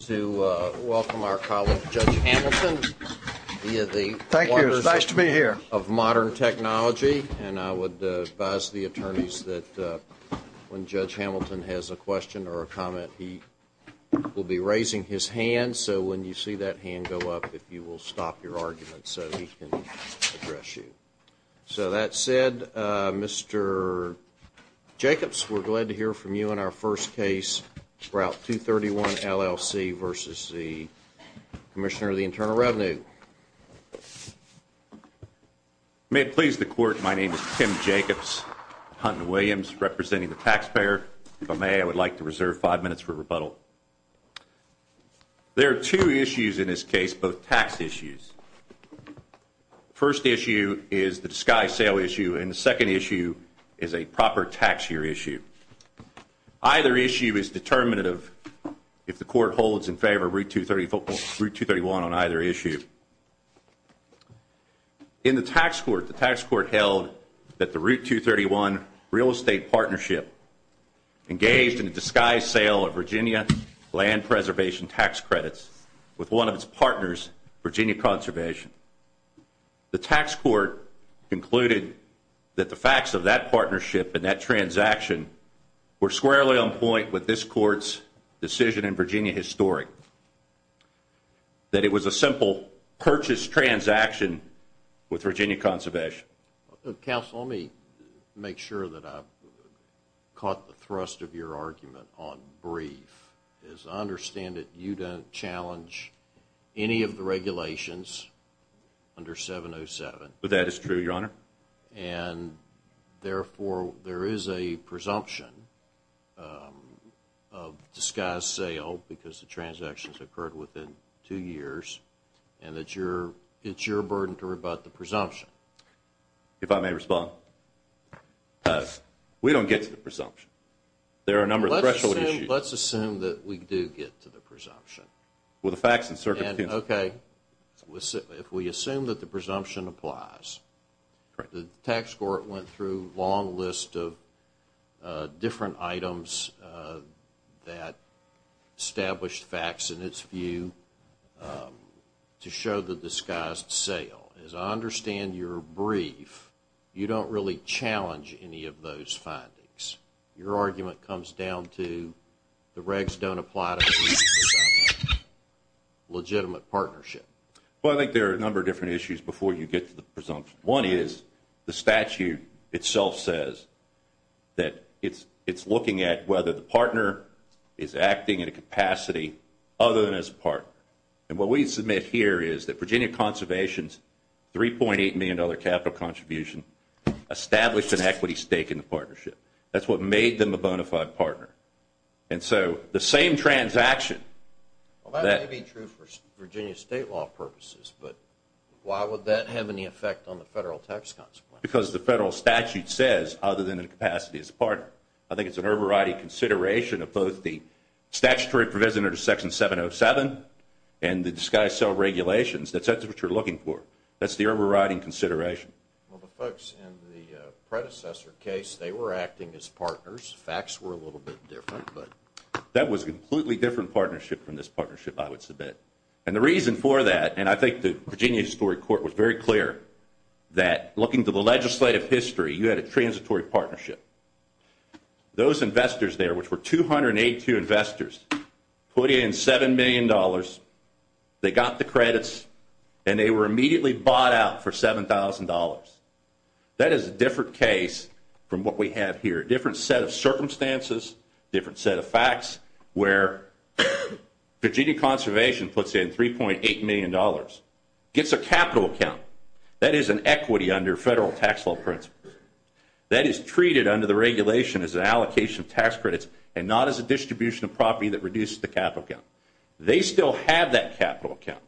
to welcome our colleague, Judge Hamilton, via the wonders of modern technology, and I would advise the attorneys that when Judge Hamilton has a question or a comment, he will be raising his hand, so when you see that hand go up, if you will stop your argument so he can address you. So that said, Mr. Jacobs, we're glad to hear from you on our first case, Route 231, LLC v. Commissioner of the Internal Revenue. May it please the Court, my name is Tim Jacobs, Huntington Williams, representing the taxpayer. If I may, I would like to reserve five minutes for rebuttal. There are two issues in this case, both tax issues. The first issue is the disguised sale issue, and the second issue is a proper tax year issue. Either issue is determinative if the Court holds in favor of Route 231 on either issue. In the tax court, the tax court held that the Route 231 real estate partnership engaged in a disguised sale of Virginia land preservation tax credits with one of its partners, Virginia Conservation. The tax court concluded that the facts of that partnership and that transaction were squarely on point with this Court's decision in Virginia Historic, that it was a simple purchase transaction with Virginia Conservation. Counsel, let me make sure that I've caught the thrust of your argument on brief. I understand that you don't challenge any of the regulations under 707. That is true, Your Honor. And therefore, there is a presumption of disguised sale because the transactions occurred within two years, and it's your burden to rebut the presumption. If I may respond, we don't get to the presumption. There are a number of threshold issues. Let's assume that we do get to the presumption. Well, the facts and circumstances... If we assume that the presumption applies, the tax court went through a long list of different items that established facts in its view to show the disguised sale. As I understand your brief, you don't really challenge any of those findings. Your argument comes down to the regs don't apply to legitimate partnership. Well, I think there are a number of different issues before you get to the presumption. One is the statute itself says that it's looking at whether the partner is acting in a capacity other than as a partner. And what we submit here is that Virginia Conservation's $3.8 million capital contribution established an equity stake in the partnership. That's what made them a bona fide partner. And so the same transaction... Well, that may be true for Virginia state law purposes, but why would that have any effect on the federal tax consequences? Because the federal statute says other than in a capacity as a partner. I think it's an overriding consideration of both the statutory provision under Section 707 and the disguised sale regulations. That's what you're looking for. That's the overriding consideration. Well, the folks in the predecessor case, they were acting as partners. The facts were a little bit different. That was a completely different partnership from this partnership, I would submit. And the reason for that, and I think the Virginia Historic Court was very clear, that looking to the legislative history, you had a transitory partnership. Those investors there, which were 282 investors, put in $7 million. They got the credits, and they were immediately bought out for $7,000. That is a different case from what we have here, a different set of circumstances, a different set of facts, where Virginia Conservation puts in $3.8 million, gets a capital account. That is an equity under federal tax law principles. That is treated under the regulation as an allocation of tax credits and not as a distribution of property that reduces the capital account. They still have that capital account.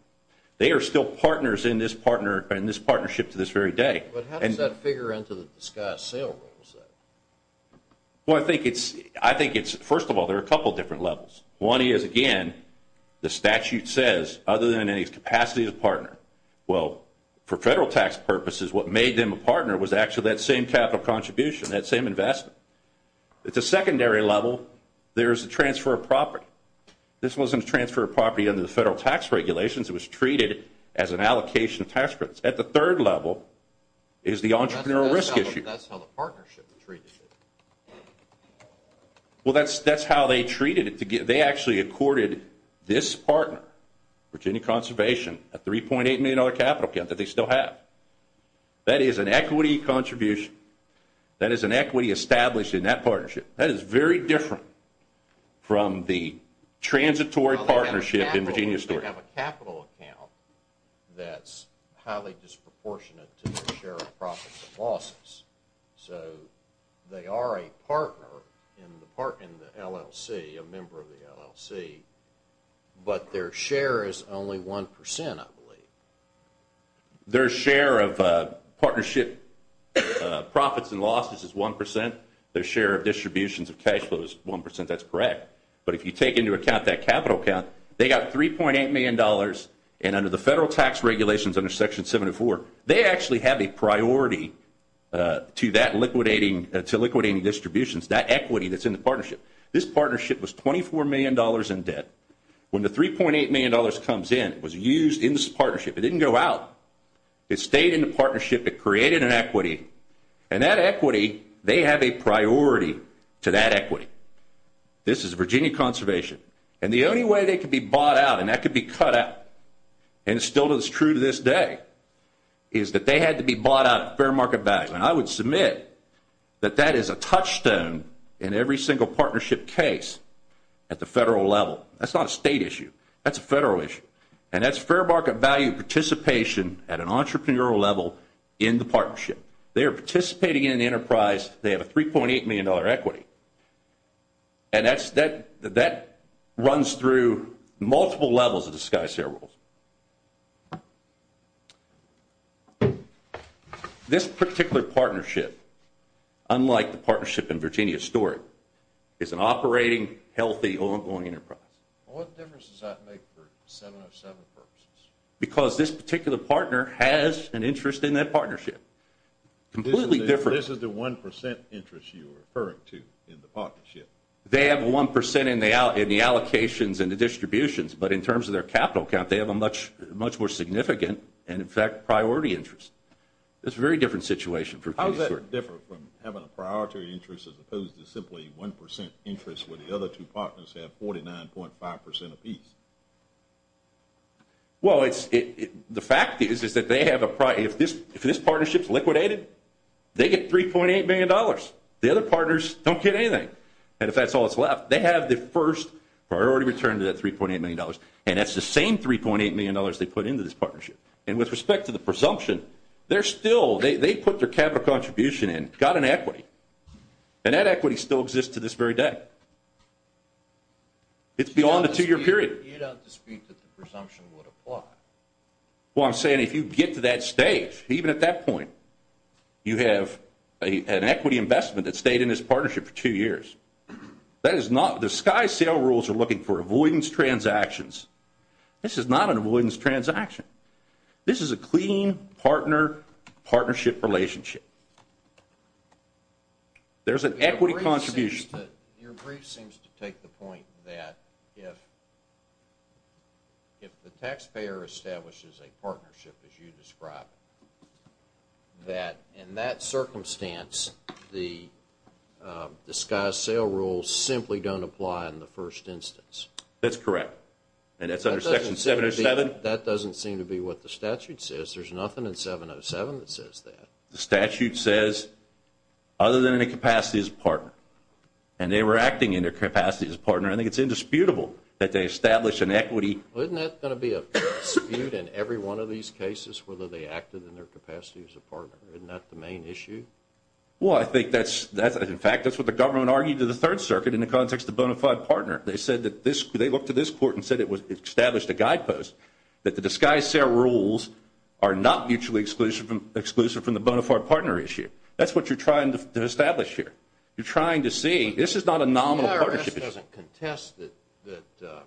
They are still partners in this partnership to this very day. But how does that figure into the discussed sale rules? Well, I think it's, first of all, there are a couple of different levels. One is, again, the statute says, other than any capacity of partner. Well, for federal tax purposes, what made them a partner was actually that same capital contribution, that same investment. At the secondary level, there is a transfer of property. This wasn't a transfer of property under the federal tax regulations. It was treated as an allocation of tax credits. At the third level is the entrepreneurial risk issue. That's how the partnership is treated. Well, that's how they treated it. They actually accorded this partner, Virginia Conservation, a $3.8 million capital account that they still have. That is an equity contribution. That is an equity established in that partnership. That is very different from the transitory partnership in Virginia's story. Well, they have a capital account that's highly disproportionate to their share of profits and losses. So they are a partner in the LLC, a member of the LLC, but their share is only 1%, I believe. Their share of partnership profits and losses is 1%. Their share of distributions of cash flow is 1%. That's correct. But if you take into account that capital account, they got $3.8 million, and under the federal tax regulations under Section 704, they actually have a priority to liquidating distributions, that equity that's in the partnership. This partnership was $24 million in debt. When the $3.8 million comes in, it was used in this partnership. It didn't go out. It stayed in the partnership. It created an equity. And that equity, they have a priority to that equity. This is Virginia conservation. And the only way they could be bought out, and that could be cut out, and it still is true to this day, is that they had to be bought out at fair market value. And I would submit that that is a touchstone in every single partnership case at the federal level. That's not a state issue. That's a federal issue. And that's fair market value participation at an entrepreneurial level in the partnership. They are participating in an enterprise. They have a $3.8 million equity. And that runs through multiple levels of the SkySail rules. This particular partnership, unlike the partnership in Virginia's story, is an operating, healthy, ongoing enterprise. What difference does that make for 707 purposes? Because this particular partner has an interest in that partnership. Completely different. This is the 1% interest you're referring to in the partnership. They have 1% in the allocations and the distributions, but in terms of their capital count, they have a much more significant and, in fact, priority interest. It's a very different situation. How does that differ from having a priority interest as opposed to simply 1% interest where the other two partners have 49.5% apiece? Well, the fact is that if this partnership is liquidated, they get $3.8 million. The other partners don't get anything. And if that's all that's left, they have the first priority return to that $3.8 million. And that's the same $3.8 million they put into this partnership. And with respect to the presumption, they put their capital contribution in, got an equity, and that equity still exists to this very day. It's beyond the two-year period. You don't dispute that the presumption would apply. Well, I'm saying if you get to that stage, even at that point, you have an equity investment that stayed in this partnership for two years. The SkySail rules are looking for avoidance transactions. This is not an avoidance transaction. This is a clean partner-partnership relationship. There's an equity contribution. Your brief seems to take the point that if the taxpayer establishes a partnership, as you described, that in that circumstance, the SkySail rules simply don't apply in the first instance. That's correct. And that's under Section 707. That doesn't seem to be what the statute says. There's nothing in 707 that says that. The statute says, other than in a capacity as a partner. And they were acting in their capacity as a partner. I think it's indisputable that they establish an equity. Well, isn't that going to be a dispute in every one of these cases, whether they acted in their capacity as a partner? Isn't that the main issue? Well, I think that's, in fact, that's what the government argued to the Third Circuit in the context of bona fide partner. They said that they looked at this court and said it established a guidepost that the SkySail rules are not mutually exclusive from the bona fide partner issue. That's what you're trying to establish here. You're trying to see this is not a nominal partnership. The IRS doesn't contest that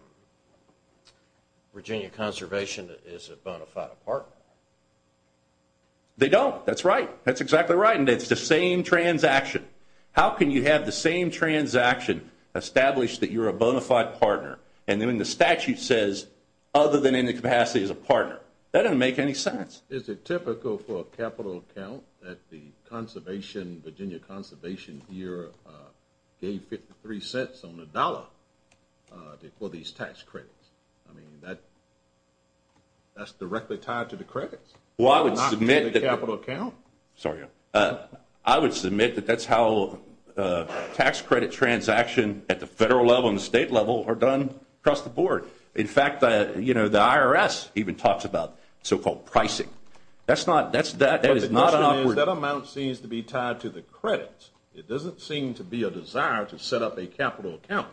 Virginia Conservation is a bona fide partner. They don't. That's right. That's exactly right. And it's the same transaction. How can you have the same transaction establish that you're a bona fide partner and then the statute says, other than in a capacity as a partner? That doesn't make any sense. Is it typical for a capital account that the Virginia Conservation here gave 53 cents on the dollar for these tax credits? I mean, that's directly tied to the credits? Well, I would submit that. Not to the capital account? Sorry. I would submit that that's how tax credit transaction at the federal level and the state level are done across the board. In fact, the IRS even talks about so-called pricing. That's not an operative. But the question is, that amount seems to be tied to the credits. It doesn't seem to be a desire to set up a capital account.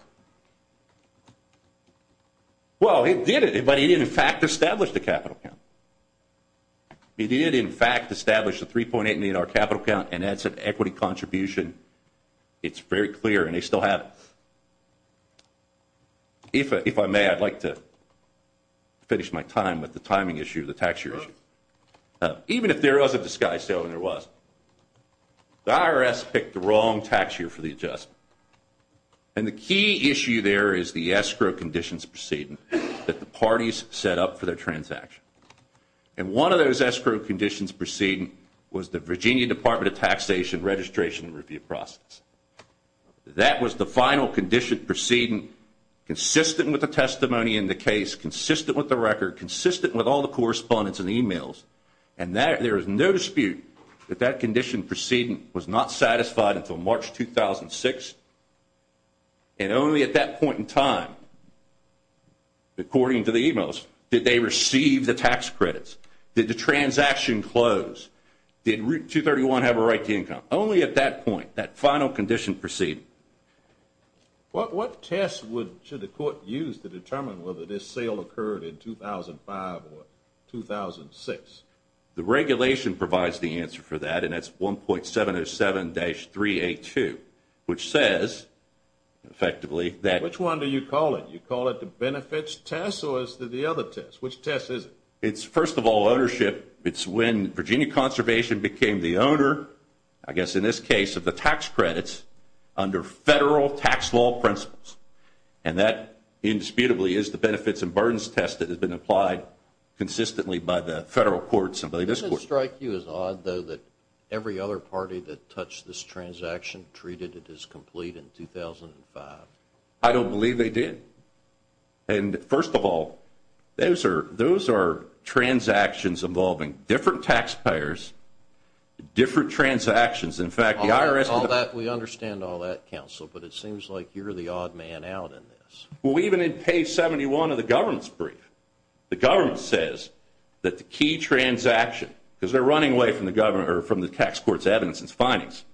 Well, it did. But it, in fact, established a capital account. It did, in fact, establish the 3.8 in our capital account, and that's an equity contribution. It's very clear, and they still have it. If I may, I'd like to finish my time with the timing issue, the tax year issue. Even if there was a disguise sale, and there was, the IRS picked the wrong tax year for the adjustment. And the key issue there is the escrow conditions proceeding that the parties set up for their transaction. And one of those escrow conditions proceeding was the Virginia Department of Taxation Registration and Review process. That was the final condition proceeding consistent with the testimony in the case, consistent with the record, consistent with all the correspondence and e-mails, and there is no dispute that that condition proceeding was not satisfied until March 2006, and only at that point in time, according to the e-mails, did they receive the tax credits, did the transaction close, did Route 231 have a right to income. Only at that point, that final condition proceeding. What test should the court use to determine whether this sale occurred in 2005 or 2006? The regulation provides the answer for that, and that's 1.707-382, which says, effectively, that... Which one do you call it? You call it the benefits test, or is it the other test? Which test is it? It's, first of all, ownership. It's when Virginia Conservation became the owner, I guess in this case, of the tax credits under federal tax law principles. And that, indisputably, is the benefits and burdens test that has been applied consistently by the federal courts and by this court. It would strike you as odd, though, that every other party that touched this transaction treated it as complete in 2005. I don't believe they did. And, first of all, those are transactions involving different taxpayers, different transactions. In fact, the IRS... All that, we understand all that, Counsel, but it seems like you're the odd man out in this. Well, even in page 71 of the government's brief, the government says that the key transaction, because they're running away from the tax court's evidence and findings,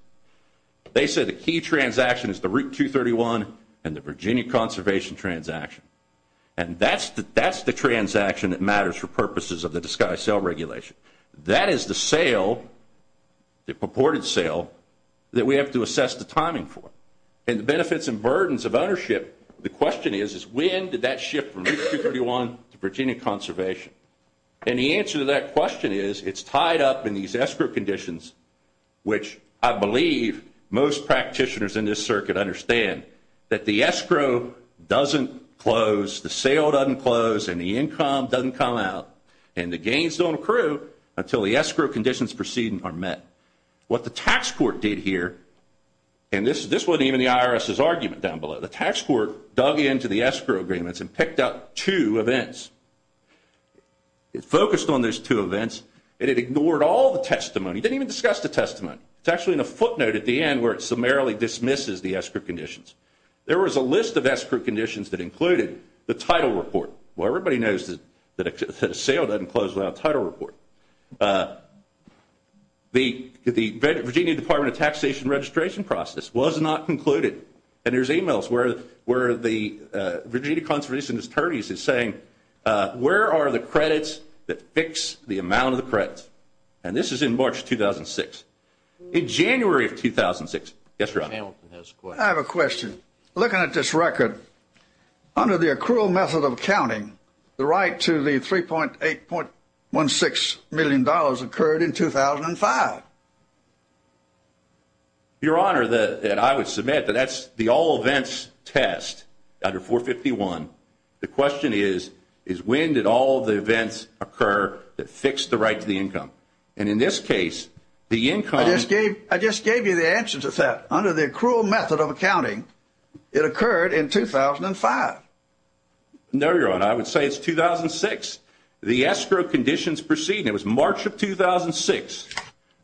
they say the key transaction is the Route 231 and the Virginia Conservation transaction. And that's the transaction that matters for purposes of the Disguised Sale Regulation. That is the sale, the purported sale, that we have to assess the timing for. And the benefits and burdens of ownership, the question is when did that shift from Route 231 to Virginia Conservation? And the answer to that question is it's tied up in these escrow conditions, which I believe most practitioners in this circuit understand, that the escrow doesn't close, the sale doesn't close, and the income doesn't come out, and the gains don't accrue until the escrow conditions preceding are met. What the tax court did here, and this wasn't even the IRS's argument down below, the tax court dug into the escrow agreements and picked out two events. It focused on those two events, and it ignored all the testimony. It didn't even discuss the testimony. It's actually in a footnote at the end where it summarily dismisses the escrow conditions. There was a list of escrow conditions that included the title report. Well, everybody knows that a sale doesn't close without a title report. The Virginia Department of Taxation registration process was not concluded, and there's e-mails where the Virginia Conservation Attorneys is saying, where are the credits that fix the amount of the credits? And this is in March 2006. In January of 2006, yes, sir? I have a question. Looking at this record, under the accrual method of accounting, the right to the $3.816 million occurred in 2005. Your Honor, I would submit that that's the all events test under 451. The question is, is when did all the events occur that fixed the right to the income? And in this case, the income. I just gave you the answer to that. Under the accrual method of accounting, it occurred in 2005. No, Your Honor, I would say it's 2006. The escrow conditions proceed, and it was March of 2006.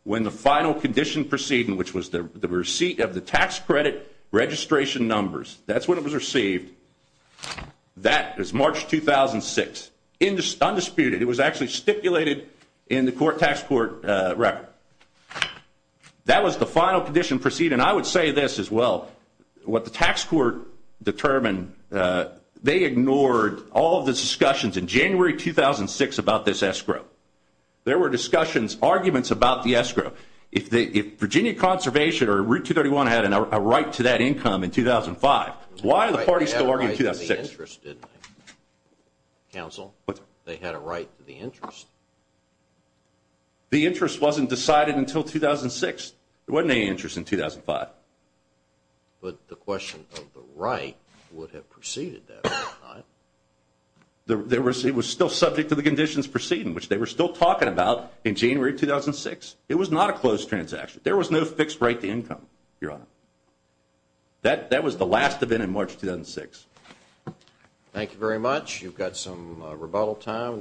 When the final condition proceeding, which was the receipt of the tax credit registration numbers, that's when it was received. That is March 2006, undisputed. It was actually stipulated in the court tax court record. That was the final condition proceeding. I would say this as well. What the tax court determined, they ignored all of the discussions in January 2006 about this escrow. There were discussions, arguments about the escrow. If Virginia Conservation or Route 231 had a right to that income in 2005, why are the parties still arguing 2006? Counsel, they had a right to the interest. The interest wasn't decided until 2006. There wasn't any interest in 2005. But the question of the right would have preceded that. The receipt was still subject to the conditions proceeding, which they were still talking about in January 2006. It was not a closed transaction. There was no fixed right to income, Your Honor. That was the last of it in March 2006. Thank you very much. You've got some rebuttal time.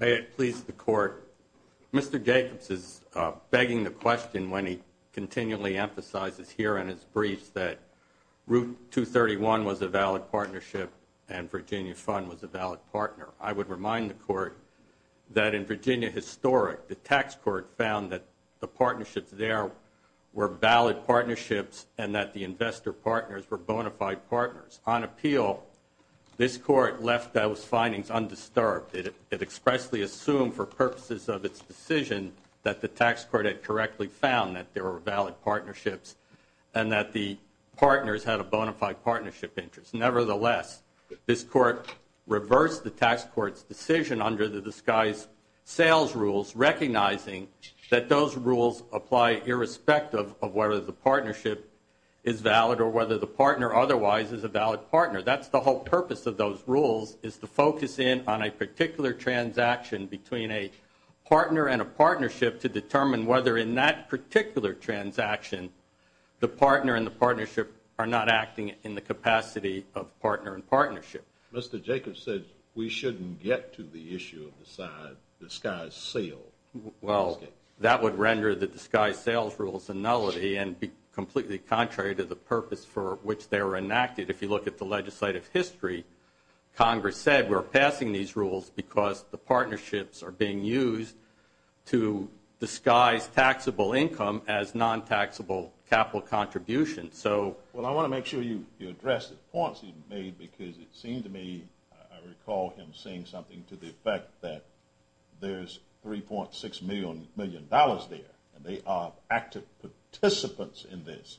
May it please the Court, Mr. Jacobs is begging the question when he continually emphasizes here in his briefs that Route 231 was a valid partnership and Virginia Fund was a valid partner. I would remind the Court that in Virginia Historic, the tax court found that the partnerships there were valid partnerships and that the investor partners were bona fide partners. On appeal, this Court left those findings undisturbed. It expressly assumed for purposes of its decision that the tax court had correctly found that there were valid partnerships and that the partners had a bona fide partnership interest. Nevertheless, this Court reversed the tax court's decision under the disguised sales rules, recognizing that those rules apply irrespective of whether the partnership is valid or whether the partner otherwise is a valid partner. That's the whole purpose of those rules is to focus in on a particular transaction between a partner and a partnership to determine whether in that particular transaction the partner and the partnership are not acting in the capacity of partner and partnership. Mr. Jacobs said we shouldn't get to the issue of the side disguised sales. Well, that would render the disguised sales rules a nullity and be completely contrary to the purpose for which they were enacted. If you look at the legislative history, Congress said we're passing these rules because the partnerships are being used to disguise taxable income as non-taxable capital contributions. Well, I want to make sure you address the points he made because it seemed to me I recall him saying something to the effect that there's $3.6 million there and they are active participants in this.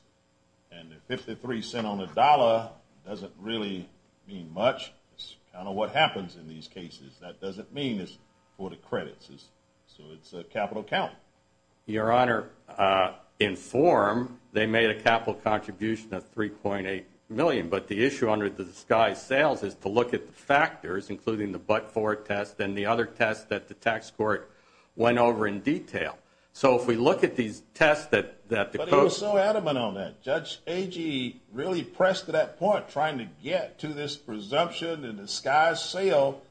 And the 53 cent on the dollar doesn't really mean much. It's kind of what happens in these cases. That doesn't mean it's for the credits. So it's a capital count. Your Honor, in form they made a capital contribution of $3.8 million. But the issue under the disguised sales is to look at the factors, including the but-for test and the other test that the tax court went over in detail. So if we look at these tests that the coach... But he was so adamant on that. Judge Agee really pressed to that point, trying to get to this presumption and disguised sale,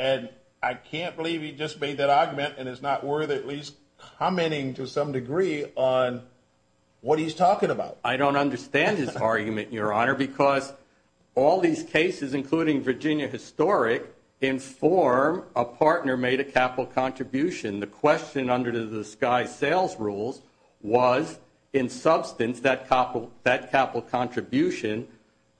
and I can't believe he just made that argument and it's not worth at least commenting to some degree on what he's talking about. I don't understand his argument, Your Honor, because all these cases, including Virginia Historic, in form a partner made a capital contribution. The question under the disguised sales rules was, in substance, that capital contribution,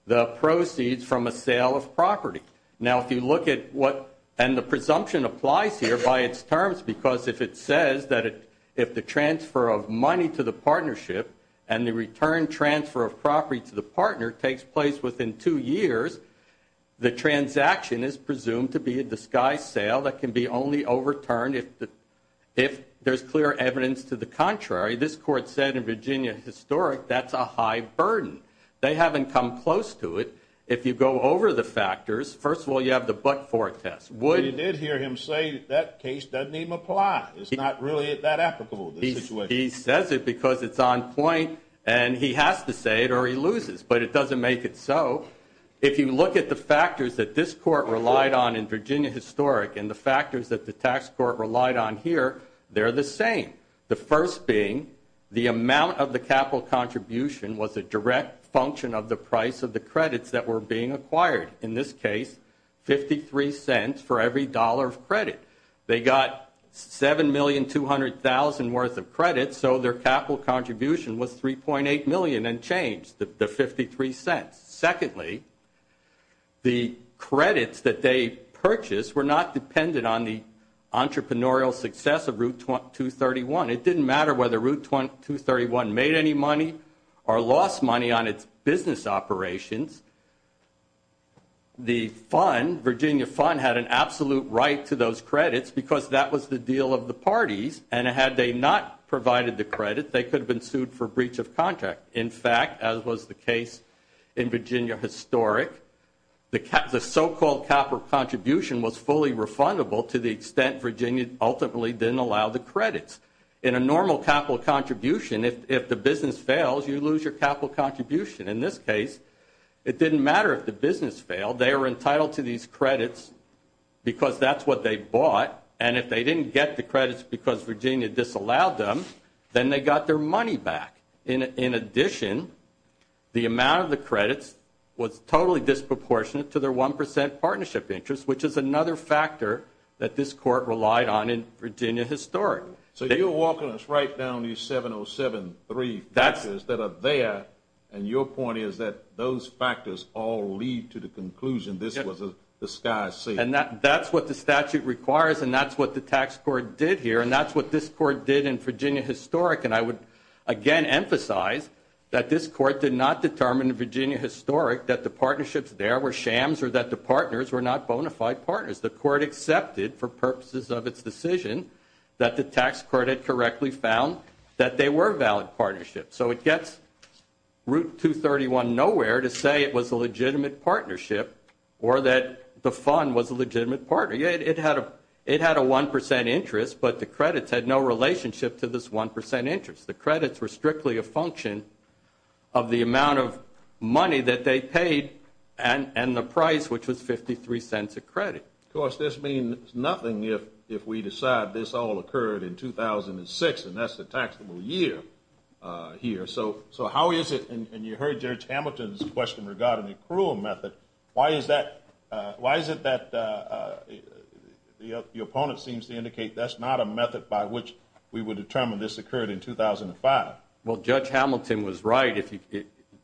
the proceeds from a sale of property. Now, if you look at what... And the presumption applies here by its terms because if it says that if the transfer of money to the partnership and the return transfer of property to the partner takes place within two years, the transaction is presumed to be a disguised sale that can be only overturned if there's clear evidence to the contrary. This court said in Virginia Historic that's a high burden. They haven't come close to it. If you go over the factors, first of all, you have the but-for test. But you did hear him say that that case doesn't even apply. It's not really that applicable to the situation. He says it because it's on point and he has to say it or he loses, but it doesn't make it so. If you look at the factors that this court relied on in Virginia Historic and the factors that the tax court relied on here, they're the same. The first being the amount of the capital contribution was a direct function of the price of the credits that were being acquired. In this case, $0.53 for every dollar of credit. They got $7,200,000 worth of credits, so their capital contribution was $3.8 million and changed the $0.53. Secondly, the credits that they purchased were not dependent on the entrepreneurial success of Route 231. It didn't matter whether Route 231 made any money or lost money on its business operations. The fund, Virginia Fund, had an absolute right to those credits because that was the deal of the parties, and had they not provided the credit, they could have been sued for breach of contract. In fact, as was the case in Virginia Historic, the so-called capital contribution was fully refundable to the extent Virginia ultimately didn't allow the credits. In a normal capital contribution, if the business fails, you lose your capital contribution. In this case, it didn't matter if the business failed. They were entitled to these credits because that's what they bought, and if they didn't get the credits because Virginia disallowed them, then they got their money back. In addition, the amount of the credits was totally disproportionate to their 1% partnership interest, which is another factor that this court relied on in Virginia Historic. So you're walking us right down these 707-3 factors that are there, and your point is that those factors all lead to the conclusion this was a sky safe. And that's what the statute requires, and that's what the tax court did here, and that's what this court did in Virginia Historic. And I would again emphasize that this court did not determine in Virginia Historic that the partnerships there were shams or that the partners were not bona fide partners. The court accepted for purposes of its decision that the tax court had correctly found that they were valid partnerships. So it gets Route 231 nowhere to say it was a legitimate partnership or that the fund was a legitimate partner. It had a 1% interest, but the credits had no relationship to this 1% interest. The credits were strictly a function of the amount of money that they paid and the price, which was 53 cents a credit. Of course, this means nothing if we decide this all occurred in 2006, and that's the taxable year here. So how is it, and you heard Judge Hamilton's question regarding the accrual method, why is it that your opponent seems to indicate that's not a method by which we would determine this occurred in 2005? Well, Judge Hamilton was right.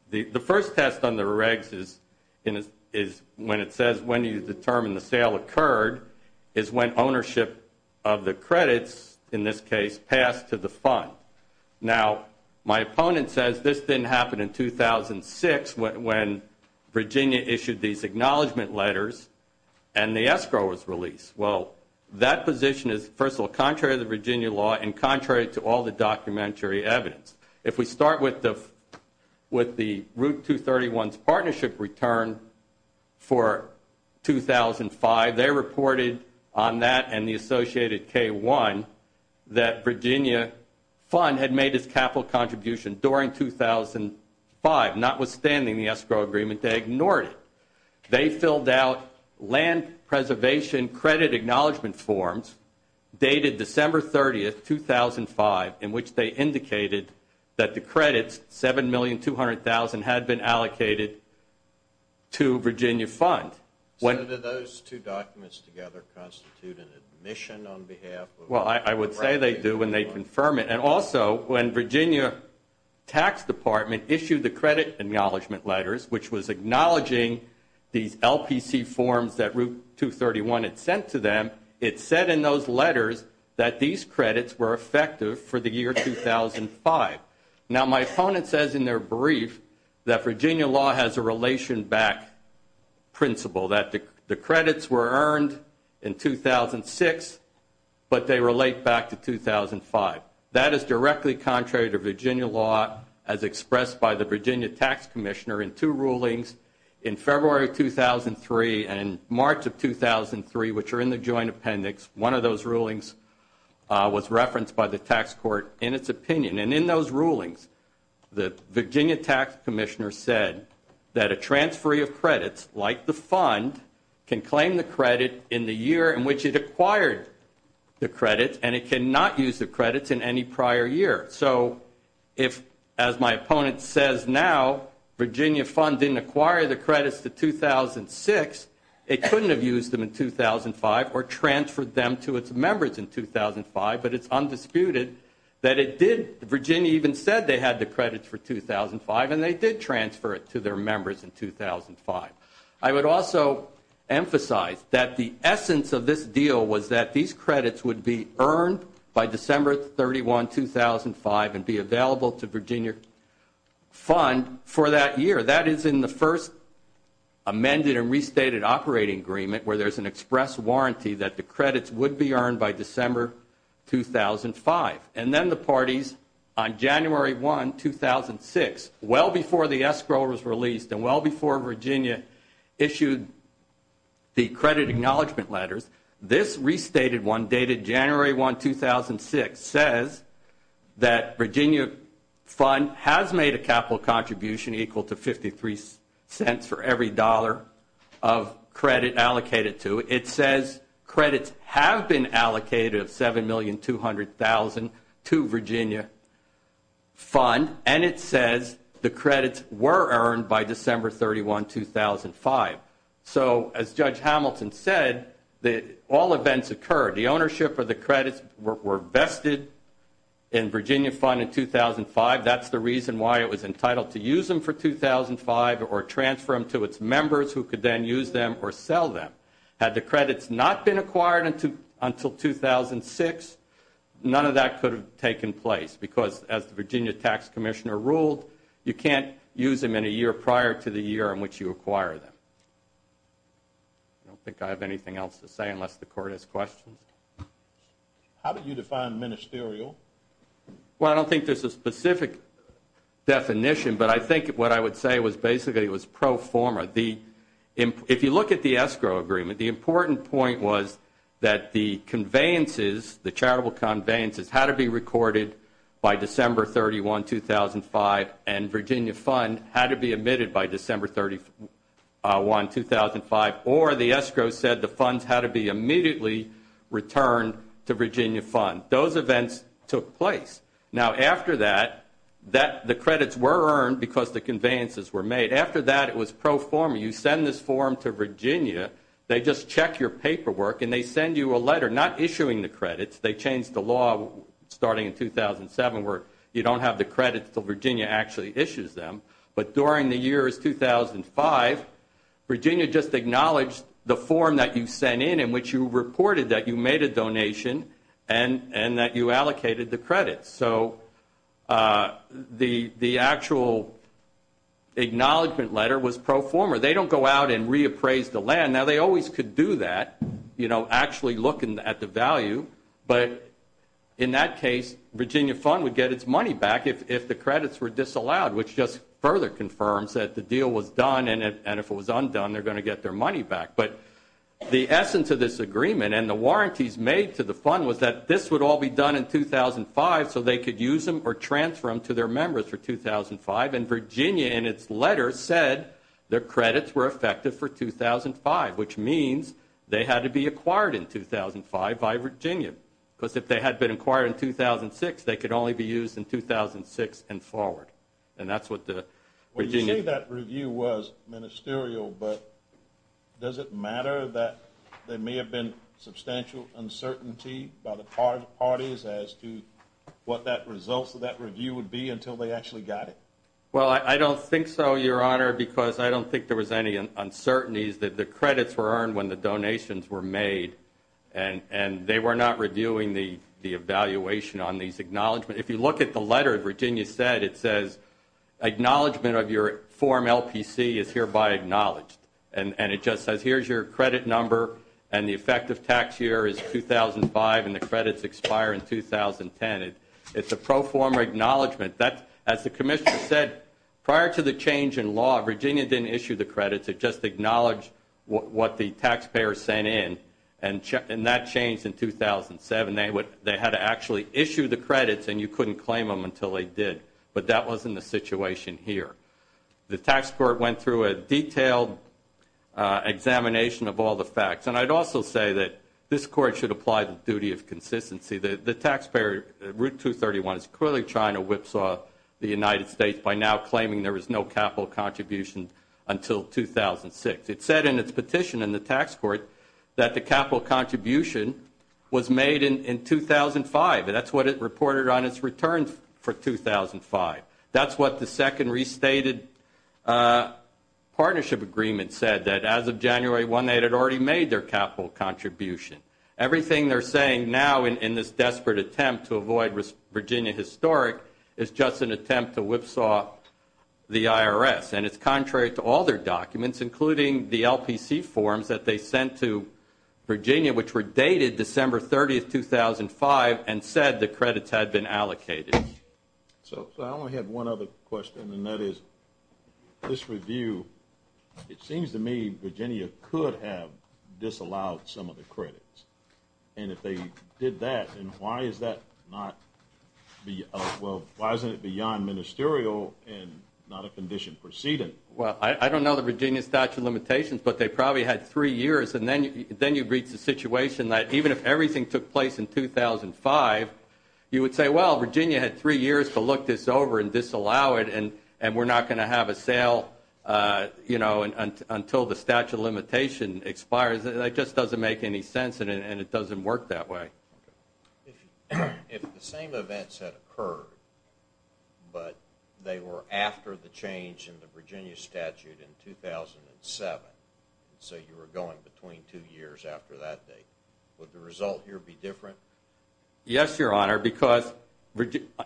The first test on the regs is when it says when you determine the sale occurred is when ownership of the credits, in this case, passed to the fund. Now, my opponent says this didn't happen in 2006 when Virginia issued these acknowledgment letters and the escrow was released. Well, that position is, first of all, contrary to the Virginia law and contrary to all the documentary evidence. If we start with the Route 231's partnership return for 2005, they reported on that and the associated K-1 that Virginia Fund had made its capital contribution during 2005. Notwithstanding the escrow agreement, they ignored it. They filled out land preservation credit acknowledgment forms dated December 30, 2005, in which they indicated that the credits, $7,200,000, had been allocated to Virginia Fund. So, do those two documents together constitute an admission on behalf of Virginia Fund? Well, I would say they do when they confirm it. And also, when Virginia Tax Department issued the credit acknowledgment letters, which was acknowledging these LPC forms that Route 231 had sent to them, it said in those letters that these credits were effective for the year 2005. Now, my opponent says in their brief that Virginia law has a relation back principle, that the credits were earned in 2006, but they relate back to 2005. That is directly contrary to Virginia law, as expressed by the Virginia Tax Commissioner in two rulings in February 2003 and March of 2003, which are in the joint appendix. One of those rulings was referenced by the tax court in its opinion. And in those rulings, the Virginia Tax Commissioner said that a transferee of credits, like the fund, can claim the credit in the year in which it acquired the credits, and it cannot use the credits in any prior year. So if, as my opponent says now, Virginia Fund didn't acquire the credits to 2006, it couldn't have used them in 2005 or transferred them to its members in 2005, but it's undisputed that it did. Virginia even said they had the credits for 2005, and they did transfer it to their members in 2005. I would also emphasize that the essence of this deal was that these credits would be earned by December 31, 2005, and be available to Virginia Fund for that year. That is in the first amended and restated operating agreement, where there's an express warranty that the credits would be earned by December 2005. And then the parties on January 1, 2006, well before the escrow was released and well before Virginia issued the credit acknowledgment letters, this restated one dated January 1, 2006, says that Virginia Fund has made a capital contribution equal to 53 cents for every dollar of credit allocated to it. It says credits have been allocated of $7,200,000 to Virginia Fund, and it says the credits were earned by December 31, 2005. So as Judge Hamilton said, all events occurred. The ownership of the credits were vested in Virginia Fund in 2005. That's the reason why it was entitled to use them for 2005 or transfer them to its members who could then use them or sell them. Had the credits not been acquired until 2006, none of that could have taken place, because as the Virginia Tax Commissioner ruled, you can't use them in a year prior to the year in which you acquire them. I don't think I have anything else to say unless the Court has questions. How do you define ministerial? Well, I don't think there's a specific definition, but I think what I would say was basically it was pro forma. If you look at the escrow agreement, the important point was that the conveyances, the charitable conveyances had to be recorded by December 31, 2005, and Virginia Fund had to be admitted by December 31, 2005, or the escrow said the funds had to be immediately returned to Virginia Fund. Those events took place. Now, after that, the credits were earned because the conveyances were made. After that, it was pro forma. You send this form to Virginia. They just check your paperwork, and they send you a letter not issuing the credits. They changed the law starting in 2007 where you don't have the credits until Virginia actually issues them. But during the years 2005, Virginia just acknowledged the form that you sent in which you reported that you made a donation and that you allocated the credits. So the actual acknowledgment letter was pro forma. They don't go out and reappraise the land. Now, they always could do that, you know, actually looking at the value. But in that case, Virginia Fund would get its money back if the credits were disallowed, which just further confirms that the deal was done, and if it was undone, they're going to get their money back. But the essence of this agreement and the warranties made to the fund was that this would all be done in 2005 so they could use them or transfer them to their members for 2005. And Virginia, in its letter, said their credits were effective for 2005, which means they had to be acquired in 2005 by Virginia because if they had been acquired in 2006, they could only be used in 2006 and forward. Well, you say that review was ministerial, but does it matter that there may have been substantial uncertainty by the parties as to what the results of that review would be until they actually got it? Well, I don't think so, Your Honor, because I don't think there was any uncertainties that the credits were earned when the donations were made, and they were not reviewing the evaluation on these acknowledgments. If you look at the letter that Virginia said, it says acknowledgment of your form LPC is hereby acknowledged, and it just says here's your credit number and the effective tax year is 2005 and the credits expire in 2010. It's a pro forma acknowledgment. As the Commissioner said, prior to the change in law, Virginia didn't issue the credits, it just acknowledged what the taxpayers sent in, and that changed in 2007. They had to actually issue the credits, and you couldn't claim them until they did, but that wasn't the situation here. The tax court went through a detailed examination of all the facts, and I'd also say that this Court should apply the duty of consistency. The taxpayer, Route 231, is clearly trying to whipsaw the United States by now claiming there was no capital contribution until 2006. It said in its petition in the tax court that the capital contribution was made in 2005, and that's what it reported on its returns for 2005. That's what the second restated partnership agreement said, that as of January 1 they had already made their capital contribution. Everything they're saying now in this desperate attempt to avoid Virginia historic is just an attempt to whipsaw the IRS, and it's contrary to all their documents, including the LPC forms that they sent to Virginia, which were dated December 30, 2005, and said the credits had been allocated. So I only have one other question, and that is this review, it seems to me Virginia could have disallowed some of the credits, and if they did that, then why is that not beyond ministerial and not a condition proceeding? Well, I don't know the Virginia statute of limitations, but they probably had three years, and then you reach the situation that even if everything took place in 2005, you would say, well, Virginia had three years to look this over and disallow it, and we're not going to have a sale until the statute of limitations expires. That just doesn't make any sense, and it doesn't work that way. If the same events had occurred, but they were after the change in the Virginia statute in 2007, so you were going between two years after that date, would the result here be different? Yes, Your Honor, because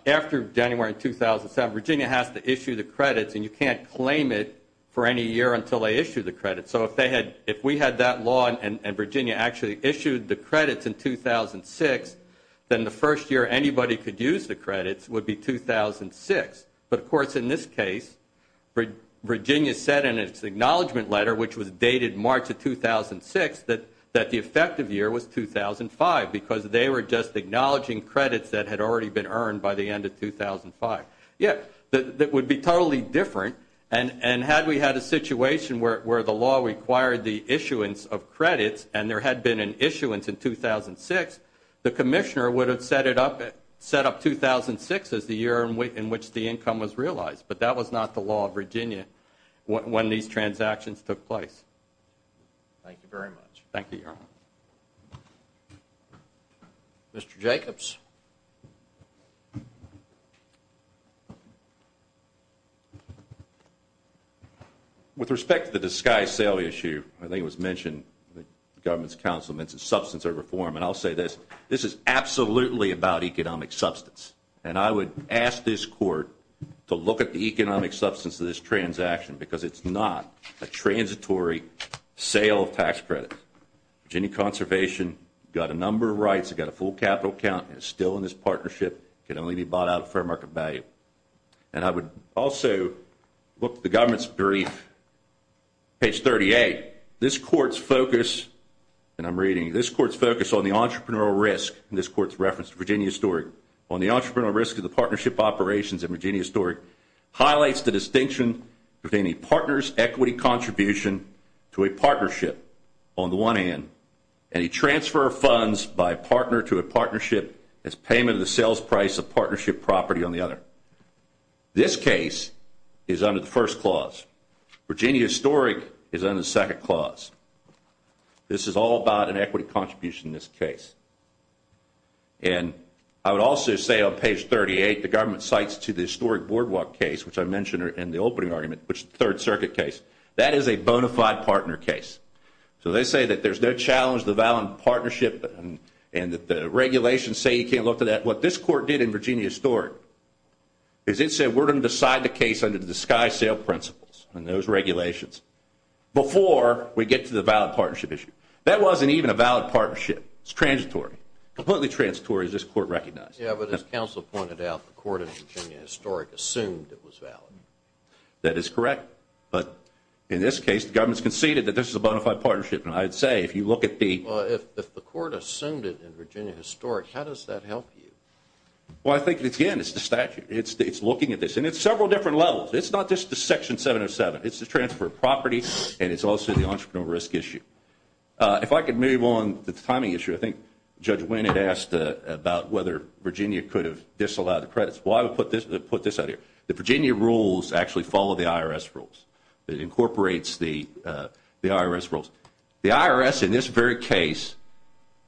after January 2007, Virginia has to issue the credits, and you can't claim it for any year until they issue the credits. So if we had that law and Virginia actually issued the credits in 2006, then the first year anybody could use the credits would be 2006. But, of course, in this case, Virginia said in its acknowledgement letter, which was dated March of 2006, that the effective year was 2005, because they were just acknowledging credits that had already been earned by the end of 2005. It would be totally different, and had we had a situation where the law required the issuance of credits and there had been an issuance in 2006, the Commissioner would have set up 2006 as the year in which the income was realized, but that was not the law of Virginia when these transactions took place. Thank you, Your Honor. Mr. Jacobs? With respect to the disguise sale issue, I think it was mentioned that the Government's Counsel mentioned substance of reform, and I'll say this, this is absolutely about economic substance, and I would ask this Court to look at the economic substance of this transaction, because it's not a transitory sale of tax credits. Virginia Conservation got a number of rights. It got a full capital account, and it's still in this partnership. It can only be bought out at fair market value. And I would also look at the Government's brief, page 38. This Court's focus, and I'm reading, this Court's focus on the entrepreneurial risk, and this Court's reference to Virginia Historic, on the entrepreneurial risk of the partnership operations in Virginia Historic, highlights the distinction between a partner's equity contribution to a partnership on the one hand, and a transfer of funds by a partner to a partnership as payment of the sales price of partnership property on the other. This case is under the first clause. Virginia Historic is under the second clause. This is all about an equity contribution in this case. And I would also say on page 38, the Government cites to the Historic Boardwalk case, which I mentioned in the opening argument, which is a Third Circuit case, that is a bona fide partner case. So they say that there's no challenge to the valid partnership, and that the regulations say you can't look to that. What this Court did in Virginia Historic, is it said we're going to decide the case under the Sky Sale Principles, and those regulations, before we get to the valid partnership issue. That wasn't even a valid partnership. It's transitory. Completely transitory, as this Court recognized. Yeah, but as counsel pointed out, the Court in Virginia Historic assumed it was valid. That is correct. But in this case, the Government has conceded that this is a bona fide partnership. And I would say, if you look at the Well, if the Court assumed it in Virginia Historic, how does that help you? Well, I think, again, it's the statute. It's looking at this. And it's several different levels. It's not just the Section 707. It's the transfer of property, and it's also the entrepreneurial risk issue. If I could move on to the timing issue, I think Judge Winn had asked about whether Virginia could have disallowed the credits. Well, I would put this out here. The Virginia rules actually follow the IRS rules. It incorporates the IRS rules. The IRS, in this very case,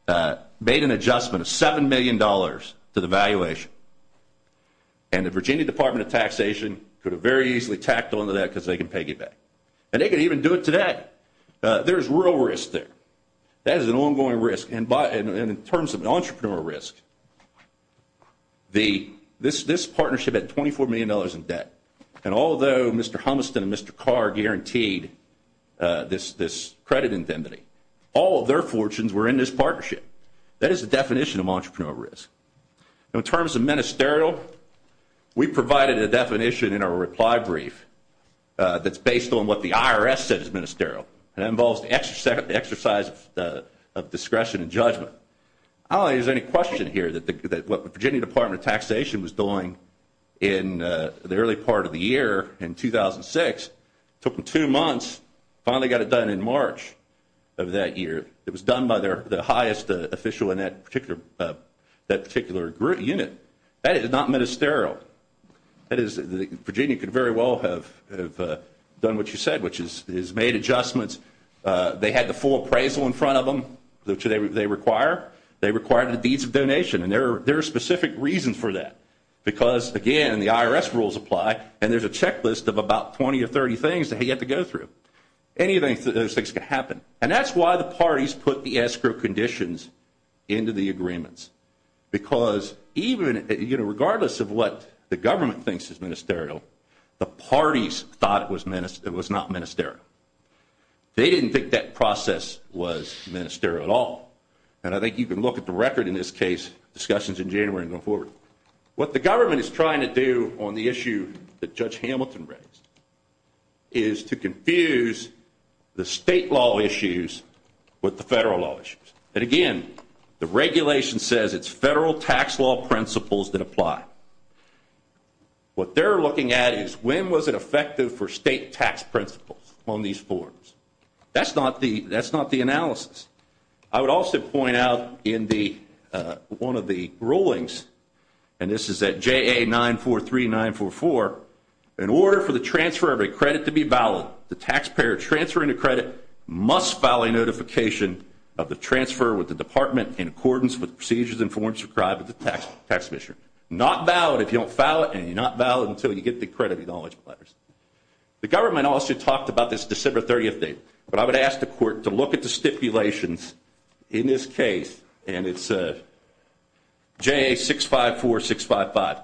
made an adjustment of $7 million to the valuation. And the Virginia Department of Taxation could have very easily tacked onto that because they can pay you back. And they could even do it today. There's real risk there. That is an ongoing risk. In terms of entrepreneurial risk, this partnership had $24 million in debt. And although Mr. Humiston and Mr. Carr guaranteed this credit indemnity, all of their fortunes were in this partnership. That is the definition of entrepreneurial risk. In terms of ministerial, we provided a definition in our reply brief that's based on what the IRS said is ministerial. And that involves the exercise of discretion and judgment. I don't think there's any question here that what the Virginia Department of Taxation was doing in the early part of the year in 2006, took them two months, finally got it done in March of that year. It was done by the highest official in that particular unit. That is not ministerial. Virginia could very well have done what you said, which is made adjustments. They had the full appraisal in front of them, which they require. They require the deeds of donation, and there are specific reasons for that. Because, again, the IRS rules apply, and there's a checklist of about 20 or 30 things that you have to go through. Any of those things can happen. And that's why the parties put the escrow conditions into the agreements. Because even regardless of what the government thinks is ministerial, the parties thought it was not ministerial. They didn't think that process was ministerial at all. And I think you can look at the record in this case, discussions in January going forward. What the government is trying to do on the issue that Judge Hamilton raised is to confuse the state law issues with the federal law issues. And, again, the regulation says it's federal tax law principles that apply. What they're looking at is when was it effective for state tax principles on these forms. That's not the analysis. I would also point out in one of the rulings, and this is at JA 943-944, in order for the transfer of a credit to be valid, the taxpayer transferring the credit must file a notification of the transfer with the department in accordance with the procedures and forms required by the tax mission. Not valid if you don't file it, and you're not valid until you get the credit acknowledge letters. The government also talked about this December 30th date, but I would ask the court to look at the stipulations in this case, and it's JA 654-655.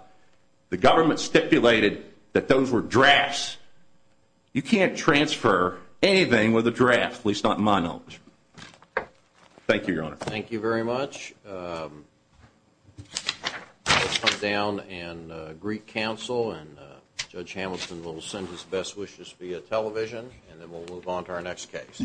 The government stipulated that those were drafts. You can't transfer anything with a draft, at least not in my knowledge. Thank you, Your Honor. Thank you very much. I will come down and greet counsel, and Judge Hamilton will send his best wishes via television, and then we'll move on to our next case.